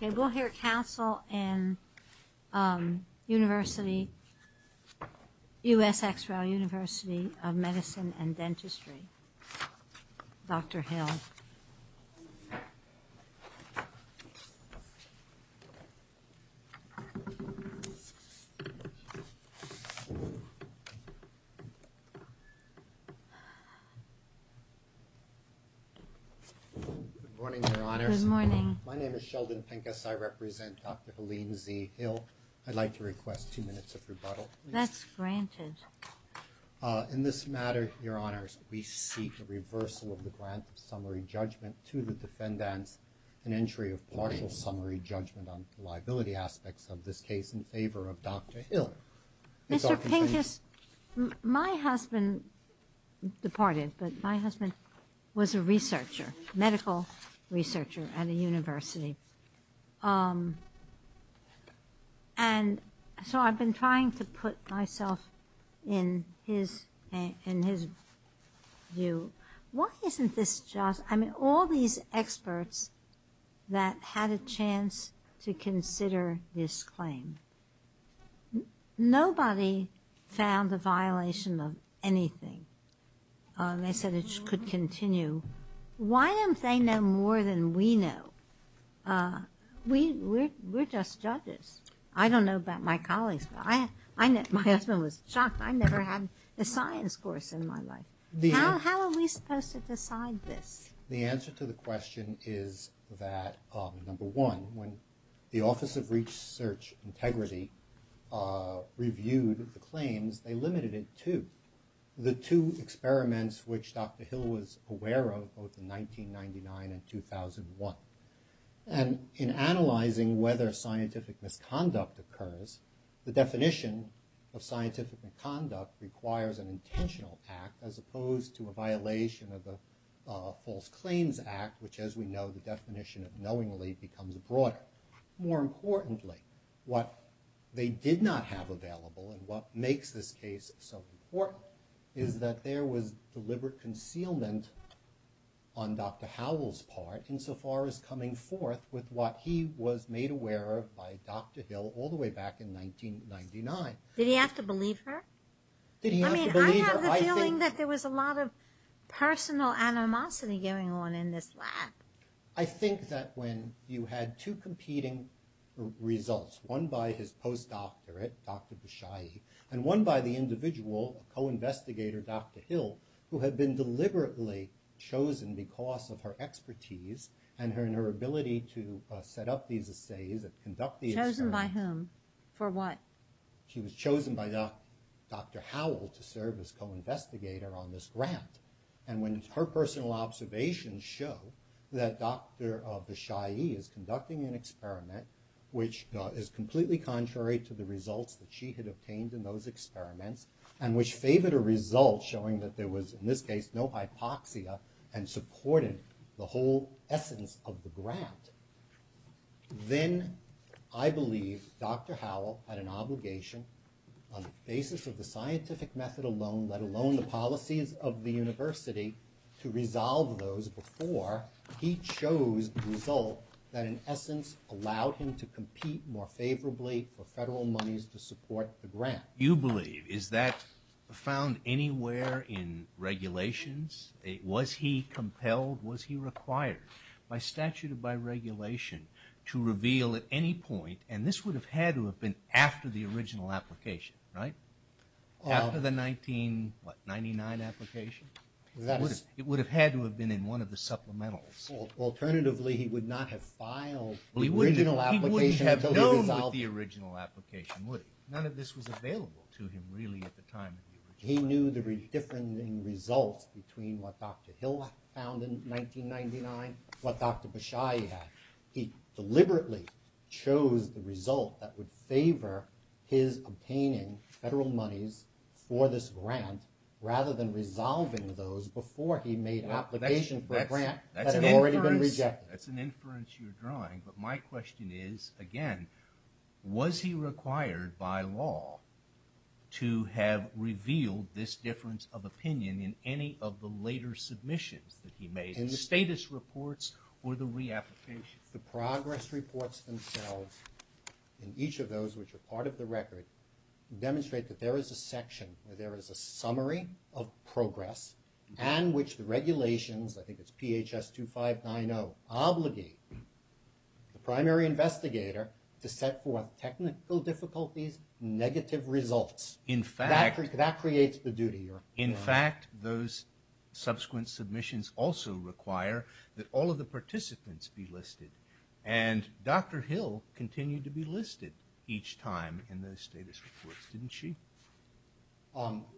We'll hear counsel in U.S. X-Ray University of Medicine and Dentistry, Dr. Hill. Good morning, Your Honors. Good morning. My name is Sheldon Pincus. I represent Dr. Helene Z. Hill. I'd like to request two minutes of rebuttal. That's granted. In this matter, Your Honors, we seek the reversal of the grant of summary judgment to the defendants and entry of partial summary judgment on liability aspects of this case in favor of Dr. Hill. Mr. Pincus, my husband departed, but my husband was a researcher, medical researcher at a university. And so I've been trying to put myself in his view. Why isn't this just – I mean, all these experts that had a chance to consider this claim, nobody found a violation of anything. They said it could continue. So why don't they know more than we know? We're just judges. I don't know about my colleagues, but my husband was shocked I never had a science course in my life. How are we supposed to decide this? The answer to the question is that, number one, when the Office of Research Integrity reviewed the claims, they limited it to the two experiments which Dr. Hill was aware of, both in 1999 and 2001. And in analyzing whether scientific misconduct occurs, the definition of scientific misconduct requires an intentional act as opposed to a violation of the False Claims Act, which, as we know, the definition of knowingly becomes broader. But more importantly, what they did not have available and what makes this case so important is that there was deliberate concealment on Dr. Howell's part insofar as coming forth with what he was made aware of by Dr. Hill all the way back in 1999. Did he have to believe her? Did he have to believe her? I mean, I have the feeling that there was a lot of personal animosity going on in this lab. I think that when you had two competing results, one by his post-doctorate, Dr. Beshaye, and one by the individual, a co-investigator, Dr. Hill, who had been deliberately chosen because of her expertise and her ability to set up these assays and conduct these experiments. Chosen by whom? For what? She was chosen by Dr. Howell to serve as co-investigator on this grant. And when her personal observations show that Dr. Beshaye is conducting an experiment which is completely contrary to the results that she had obtained in those experiments and which favored a result showing that there was, in this case, no hypoxia and supported the whole essence of the grant, then I believe Dr. Howell had an obligation on the basis of the scientific method alone, let alone the policies of the university, to resolve those before he chose the result that in essence allowed him to compete more favorably for federal monies to support the grant. You believe, is that found anywhere in regulations? Was he compelled, was he required by statute or by regulation to reveal at any point, and this would have had to have been after the original application, right? After the 1999 application? It would have had to have been in one of the supplementals. Alternatively, he would not have filed the original application. He wouldn't have known the original application, would he? None of this was available to him really at the time. He knew the different results between what Dr. Hill found in 1999 and what Dr. Beshaye had. He deliberately chose the result that would favor his obtaining federal monies for this grant rather than resolving those before he made application for a grant that had already been rejected. That's an inference you're drawing, but my question is, again, was he required by law to have revealed this difference of opinion in any of the later submissions that he made, in the status reports or the reapplications? The progress reports themselves, in each of those which are part of the record, demonstrate that there is a section where there is a summary of progress and which the regulations, I think it's PHS 2590, obligate the primary investigator to set forth technical difficulties, negative results. That creates the duty. In fact, those subsequent submissions also require that all of the participants be listed. And Dr. Hill continued to be listed each time in those status reports, didn't she?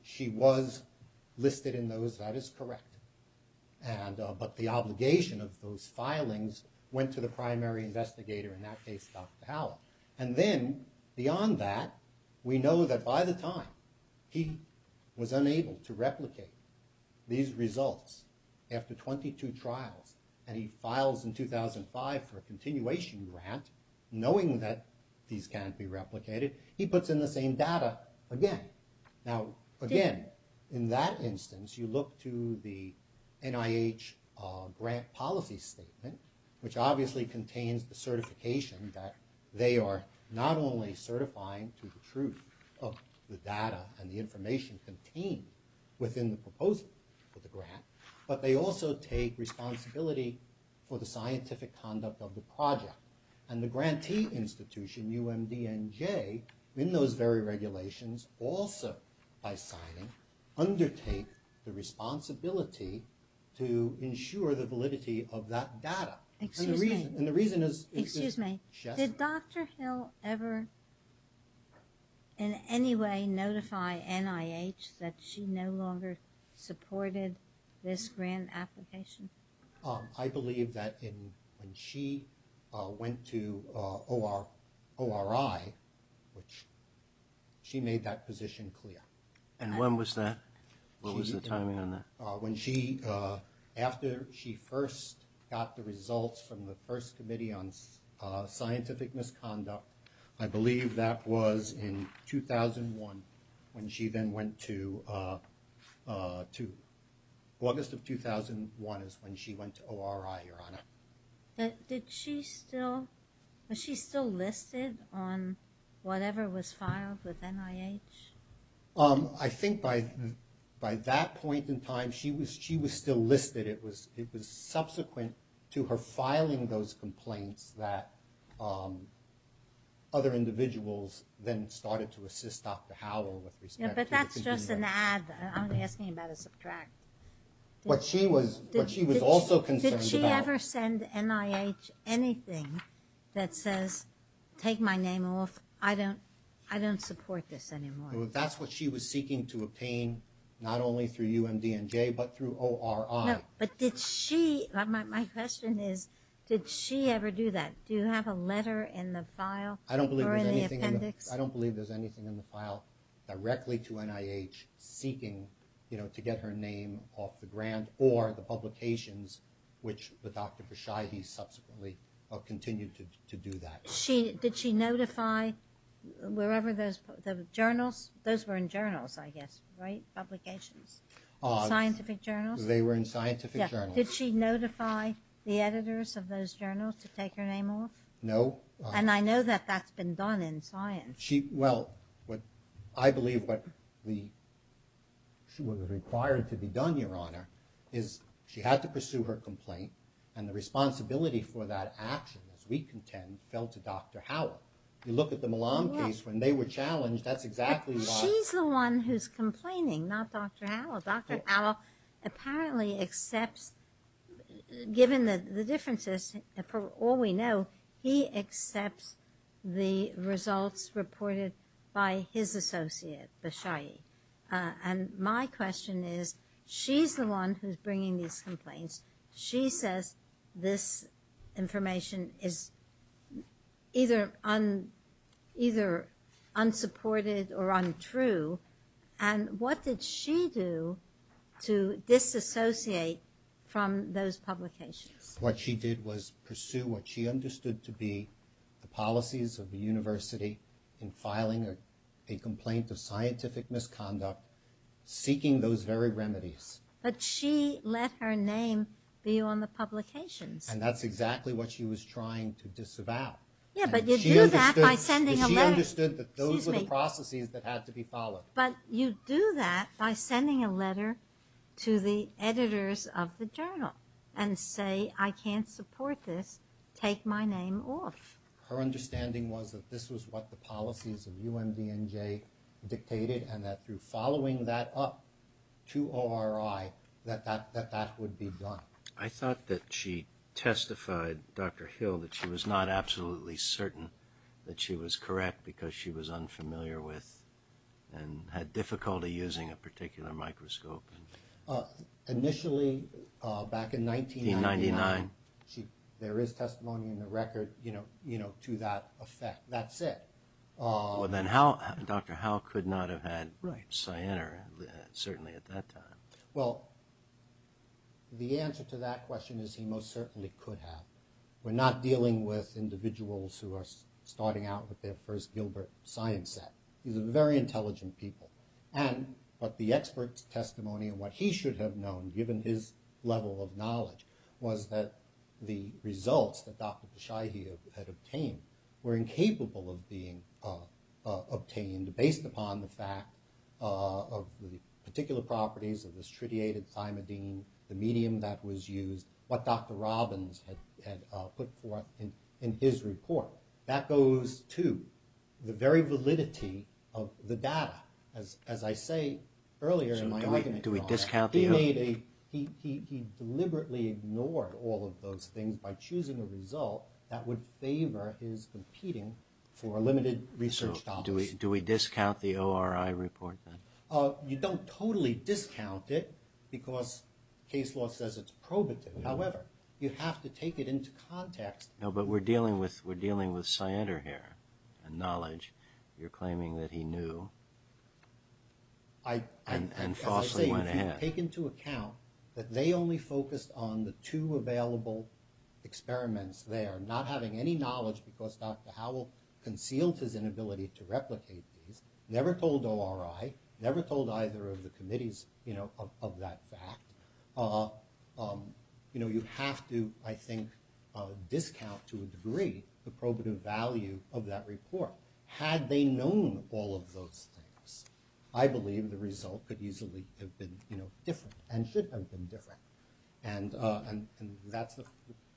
She was listed in those, that is correct. But the obligation of those filings went to the primary investigator, in that case Dr. Hallett. And then, beyond that, we know that by the time he was unable to replicate these results, after 22 trials, and he files in 2005 for a continuation grant, knowing that these can't be replicated, he puts in the same data again. Now, again, in that instance, you look to the NIH grant policy statement, which obviously contains the certification that they are not only certifying to the truth of the data and the information contained within the proposal for the grant, but they also take responsibility for the scientific conduct of the project. And the grantee institution, UMDNJ, in those very regulations, also, by signing, undertake the responsibility to ensure the validity of that data. And the reason is... Excuse me. Did Dr. Hill ever in any way notify NIH that she no longer supported this grant application? I believe that when she went to ORI, she made that position clear. And when was that? What was the timing on that? After she first got the results from the first committee on scientific misconduct, I believe that was in 2001, when she then went to... August of 2001 is when she went to ORI, Your Honor. Did she still... Was she still listed on whatever was filed with NIH? I think by that point in time, she was still listed. It was subsequent to her filing those complaints that other individuals then started to assist Dr. Howell with respect to... Yeah, but that's just an add. I'm only asking you about a subtract. What she was also concerned about... Did she ever send NIH anything that says, take my name off, I don't support this anymore? That's what she was seeking to obtain, not only through UMDNJ, but through ORI. No, but did she... My question is, did she ever do that? Do you have a letter in the file or in the appendix? I don't believe there's anything in the file directly to NIH seeking to get her name off the grant or the publications, which Dr. Vershahi subsequently continued to do that. Did she notify wherever those journals... Those were in journals, I guess, right, publications? Scientific journals? They were in scientific journals. Did she notify the editors of those journals to take her name off? No. And I know that that's been done in science. Well, I believe what was required to be done, Your Honor, is she had to pursue her complaint, and the responsibility for that action, as we contend, fell to Dr. Howell. You look at the Milan case, when they were challenged, that's exactly why... She's the one who's complaining, not Dr. Howell. Dr. Howell apparently accepts, given the differences, for all we know, he accepts the results reported by his associate, Vershahi. And my question is, she's the one who's bringing these complaints. She says this information is either unsupported or untrue, and what did she do to disassociate from those publications? What she did was pursue what she understood to be the policies of the university in filing a complaint of scientific misconduct, seeking those very remedies. But she let her name be on the publications. And that's exactly what she was trying to disavow. Yeah, but you do that by sending a letter. She understood that those were the processes that had to be followed. But you do that by sending a letter to the editors of the journal, and say, I can't support this, take my name off. Her understanding was that this was what the policies of UMDNJ dictated, and that through following that up to ORI, that that would be done. I thought that she testified, Dr. Hill, that she was not absolutely certain that she was correct because she was unfamiliar with and had difficulty using a particular microscope. Initially, back in 1999, there is testimony in the record to that effect. That's it. Well, then Dr. Howe could not have had Cianer, certainly, at that time. Well, the answer to that question is he most certainly could have. We're not dealing with individuals who are starting out with their first Gilbert science set. These are very intelligent people. And what the expert's testimony and what he should have known, given his level of knowledge, was that the results that Dr. Beshahi had obtained were incapable of being obtained based upon the fact of the particular properties of the stritiated thymidine, the medium that was used, what Dr. Robbins had put forth in his report. That goes to the very validity of the data. As I say earlier in my argument, he deliberately ignored all of those things by choosing a result that would favor his competing for limited research dollars. So do we discount the ORI report, then? You don't totally discount it because case law says it's probative. However, you have to take it into context. No, but we're dealing with Cianer here and knowledge. You're claiming that he knew and falsely went ahead. As I say, if you take into account that they only focused on the two available experiments there, not having any knowledge because Dr. Howell concealed his inability to replicate these, never told ORI, never told either of the committees of that fact, you have to, I think, discount to a degree the probative value of that report. Had they known all of those things, I believe the result could easily have been different and should have been different. And that's the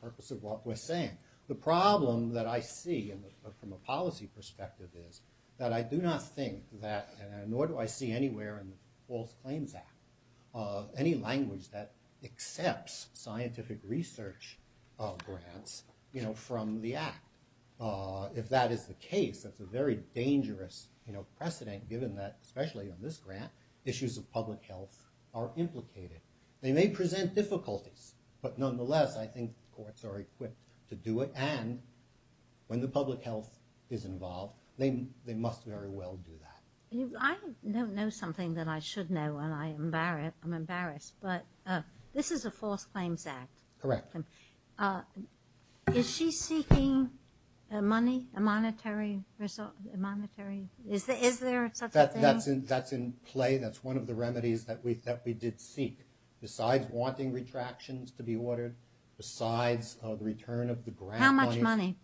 purpose of what we're saying. The problem that I see from a policy perspective is that I do not think that, nor do I see anywhere in the False Claims Act, any language that accepts scientific research grants from the Act. If that is the case, that's a very dangerous precedent given that, especially on this grant, issues of public health are implicated. They may present difficulties, but nonetheless, I think courts are equipped to do it and when the public health is involved, they must very well do that. I don't know something that I should know and I'm embarrassed, but this is a False Claims Act. Correct. Is she seeking money, a monetary result? Is there such a thing? That's in play. That's one of the remedies that we did seek. Besides wanting retractions to be ordered, besides the return of the grant money. How much money?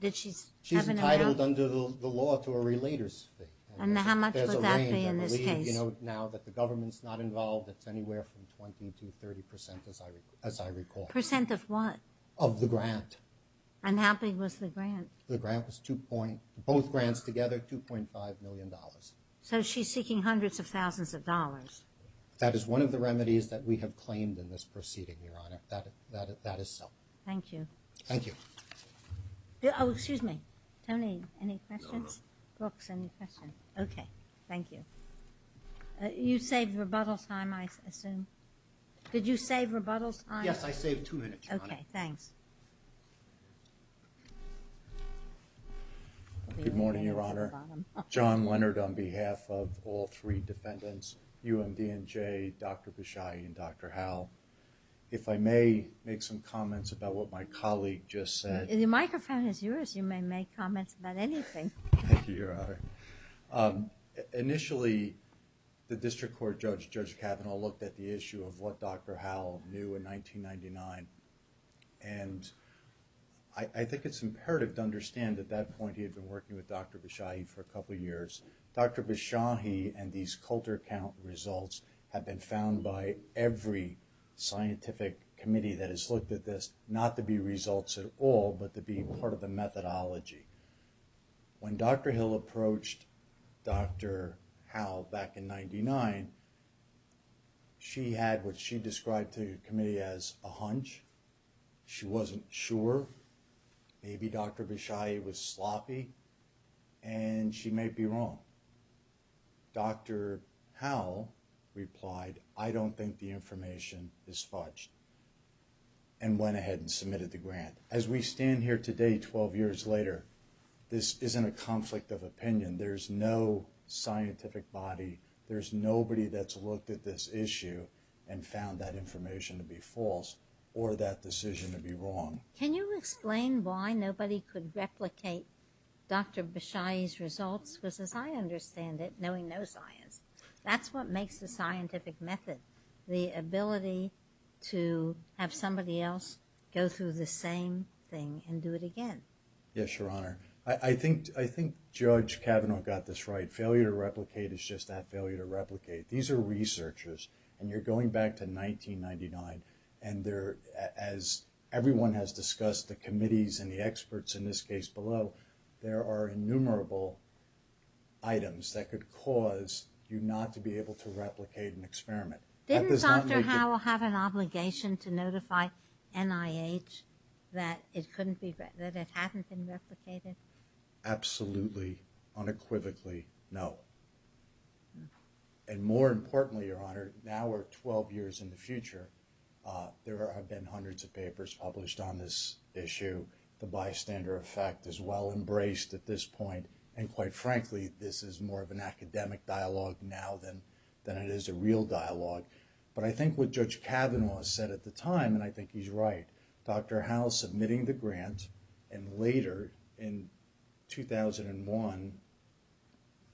Did she have an amount? She's entitled under the law to a relater's fee. And how much would that be in this case? Now that the government's not involved, it's anywhere from 20 to 30 percent, as I recall. Percent of what? Of the grant. And how big was the grant? The grant was 2. Both grants together, $2.5 million. So she's seeking hundreds of thousands of dollars. That is one of the remedies that we have claimed in this proceeding, Your Honor. That is so. Thank you. Thank you. Oh, excuse me. Tony, any questions? No, no. Brooks, any questions? Okay, thank you. You saved rebuttal time, I assume. Did you save rebuttal time? Yes, I saved two minutes, Your Honor. Okay, thanks. Good morning, Your Honor. John Leonard on behalf of all three defendants, UMDNJ, Dr. Bishai, and Dr. Howell. If I may make some comments about what my colleague just said. The microphone is yours. You may make comments about anything. Thank you, Your Honor. Initially, the district court judge, Judge Kavanaugh, looked at the issue of what Dr. Howell knew in 1999. And I think it's imperative to understand at that point he had been working with Dr. Bishai for a couple years. Dr. Bishai and these Coulter count results have been found by every scientific committee that has looked at this, not to be results at all, but to be part of the methodology. When Dr. Hill approached Dr. Howell back in 1999, she had what she described to the committee as a hunch. She wasn't sure. Maybe Dr. Bishai was sloppy and she may be wrong. Dr. Howell replied, I don't think the information is fudged, and went ahead and submitted the grant. As we stand here today 12 years later, this isn't a conflict of opinion. There's no scientific body, there's nobody that's looked at this issue and found that information to be false or that decision to be wrong. Can you explain why nobody could replicate Dr. Bishai's results? Because as I understand it, knowing no science, that's what makes the scientific method. The ability to have somebody else go through the same thing and do it again. Yes, Your Honor. I think Judge Kavanaugh got this right. Failure to replicate is just that, failure to replicate. These are researchers, and you're going back to 1999, and as everyone has discussed, the committees and the experts, in this case below, there are innumerable items that could cause you not to be able to replicate an experiment. Didn't Dr. Howell have an obligation to notify NIH that it hadn't been replicated? Absolutely, unequivocally, no. And more importantly, Your Honor, now we're 12 years in the future, there have been hundreds of papers published on this issue. The bystander effect is well embraced at this point, and quite frankly, this is more of an academic dialogue now than it is a real dialogue. But I think what Judge Kavanaugh said at the time, and I think he's right, Dr. Howell submitting the grant, and later, in 2001,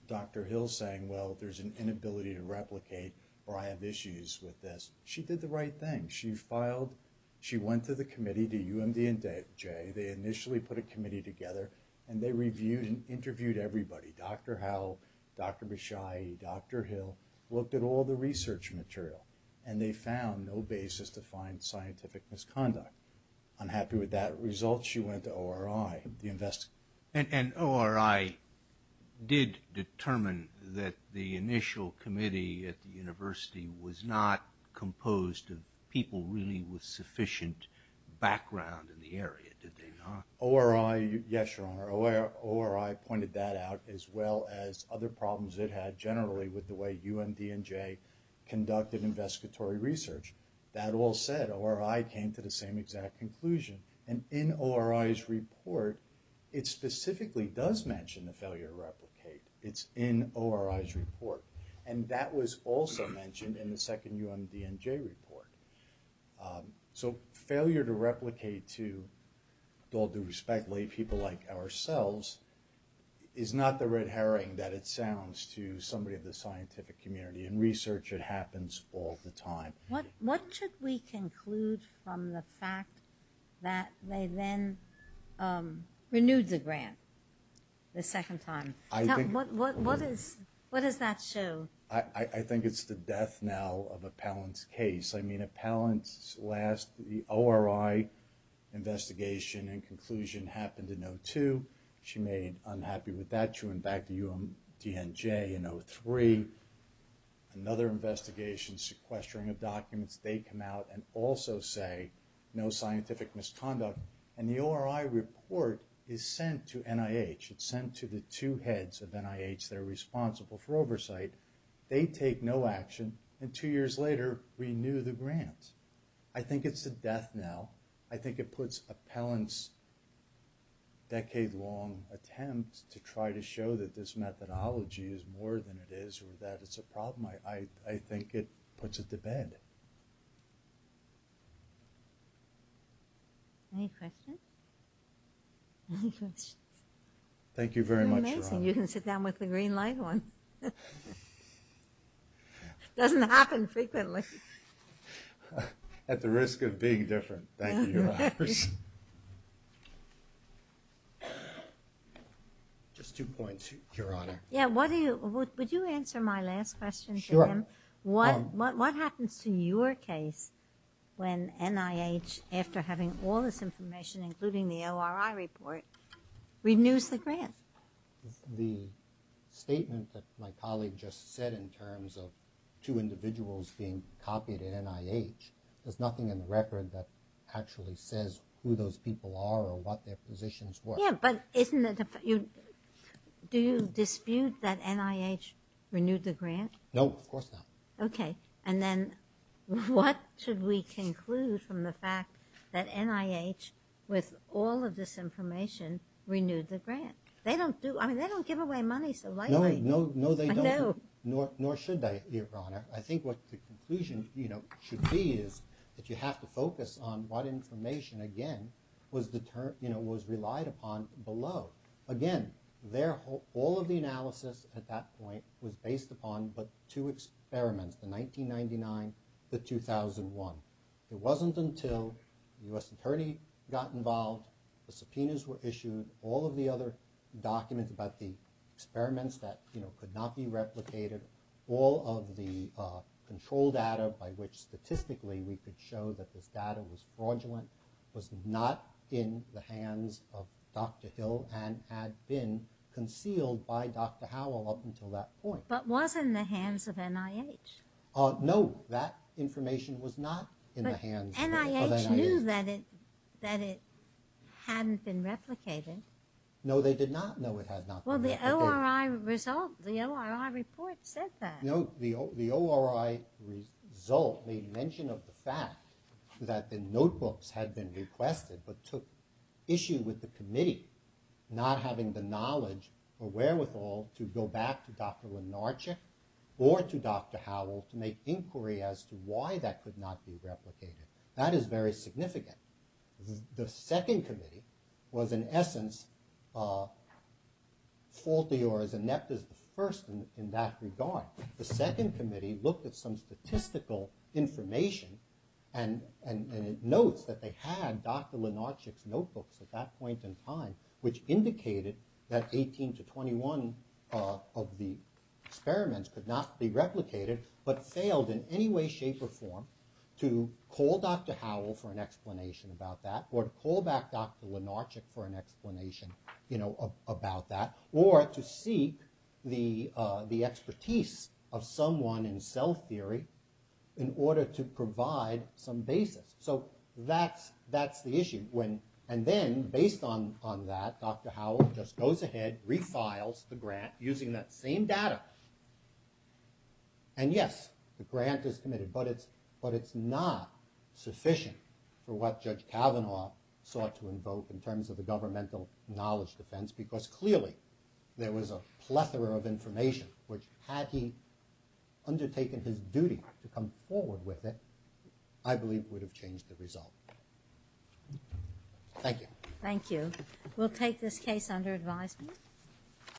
Dr. Hill saying, well, there's an inability to replicate, or I have issues with this. She did the right thing. She went to the committee, to UMD and J, they initially put a committee together, and they reviewed and interviewed everybody. Dr. Howell, Dr. Bishai, Dr. Hill looked at all the research material, and they found no basis to find scientific misconduct. Unhappy with that result, she went to ORI. And ORI did determine that the initial committee at the university was not composed of people really with sufficient background in the area, did they not? ORI, yes, Your Honor, ORI pointed that out, as well as other problems it had generally with the way UMD and J conducted investigatory research. That all said, ORI came to the same exact conclusion. And in ORI's report, it specifically does mention the failure to replicate. It's in ORI's report. And that was also mentioned in the second UMD and J report. So failure to replicate to all due respect, lay people like ourselves, is not the red herring that it sounds to somebody in the scientific community. In research, it happens all the time. What should we conclude from the fact that they then renewed the grant the second time? What does that show? I think it's the death now of Appellant's case. I mean, Appellant's last ORI investigation and conclusion happened in 02. She made it unhappy with that. She went back to UMD and J in 03. Another investigation, sequestering of documents. They come out and also say no scientific misconduct. And the ORI report is sent to NIH. It's sent to the two heads of NIH that are responsible for oversight. They take no action. And two years later, renew the grant. I think it's the death now. I think it puts Appellant's decade-long attempt to try to show that this methodology is more than it is or that it's a problem. I think it puts it to bed. Any questions? Any questions? Thank you very much. You're amazing. I sit down with the green light ones. It doesn't happen frequently. At the risk of being different, thank you. Just two points, Your Honor. Would you answer my last question? Sure. What happens to your case when NIH, after having all this information, including the ORI report, renews the grant? The statement that my colleague just said in terms of two individuals being copied at NIH, there's nothing in the record that actually says who those people are or what their positions were. Yeah, but isn't it, do you dispute that NIH renewed the grant? No, of course not. Okay. And then what should we conclude from the fact that NIH, with all of this information, renewed the grant? They don't give away money so lightly. No, they don't, nor should they, Your Honor. I think what the conclusion should be is that you have to focus on what information, again, was relied upon below. Again, all of the analysis at that point was based upon but two experiments, the 1999, the 2001. It wasn't until the U.S. attorney got involved, the subpoenas were issued, all of the other documents about the experiments that could not be replicated, all of the control data by which statistically we could show that this data was fraudulent, was not in the hands of Dr. Hill and had been concealed by Dr. Howell up until that point. But was in the hands of NIH. No, that information was not in the hands of NIH. But NIH knew that it hadn't been replicated. No, they did not know it had not been replicated. Well, the ORI report said that. No, the ORI result made mention of the fact that the notebooks had been requested but took issue with the committee not having the knowledge or wherewithal to go back to Dr. Lenarchik or to Dr. Howell to make inquiry as to why that could not be replicated. That is very significant. The second committee was in essence faulty or as inept as the first in that regard. The second committee looked at some statistical information and notes that they had Dr. Lenarchik's notebooks at that point in time which indicated that 18 to 21 of the experiments could not be replicated but failed in any way, shape or form to call Dr. Howell for an explanation about that or to call back Dr. Lenarchik for an explanation about that or to seek the expertise of someone in cell theory in order to provide some basis. So that's the issue. And then based on that, Dr. Howell just goes ahead, refiles the grant using that same data. And yes, the grant is committed but it's not sufficient for what Judge Kavanaugh sought to invoke in terms of the governmental knowledge defense because clearly there was a plethora of information which had he undertaken his duty to come forward with it, I believe would have changed the result. Thank you. Thank you. We'll take this case under advisement.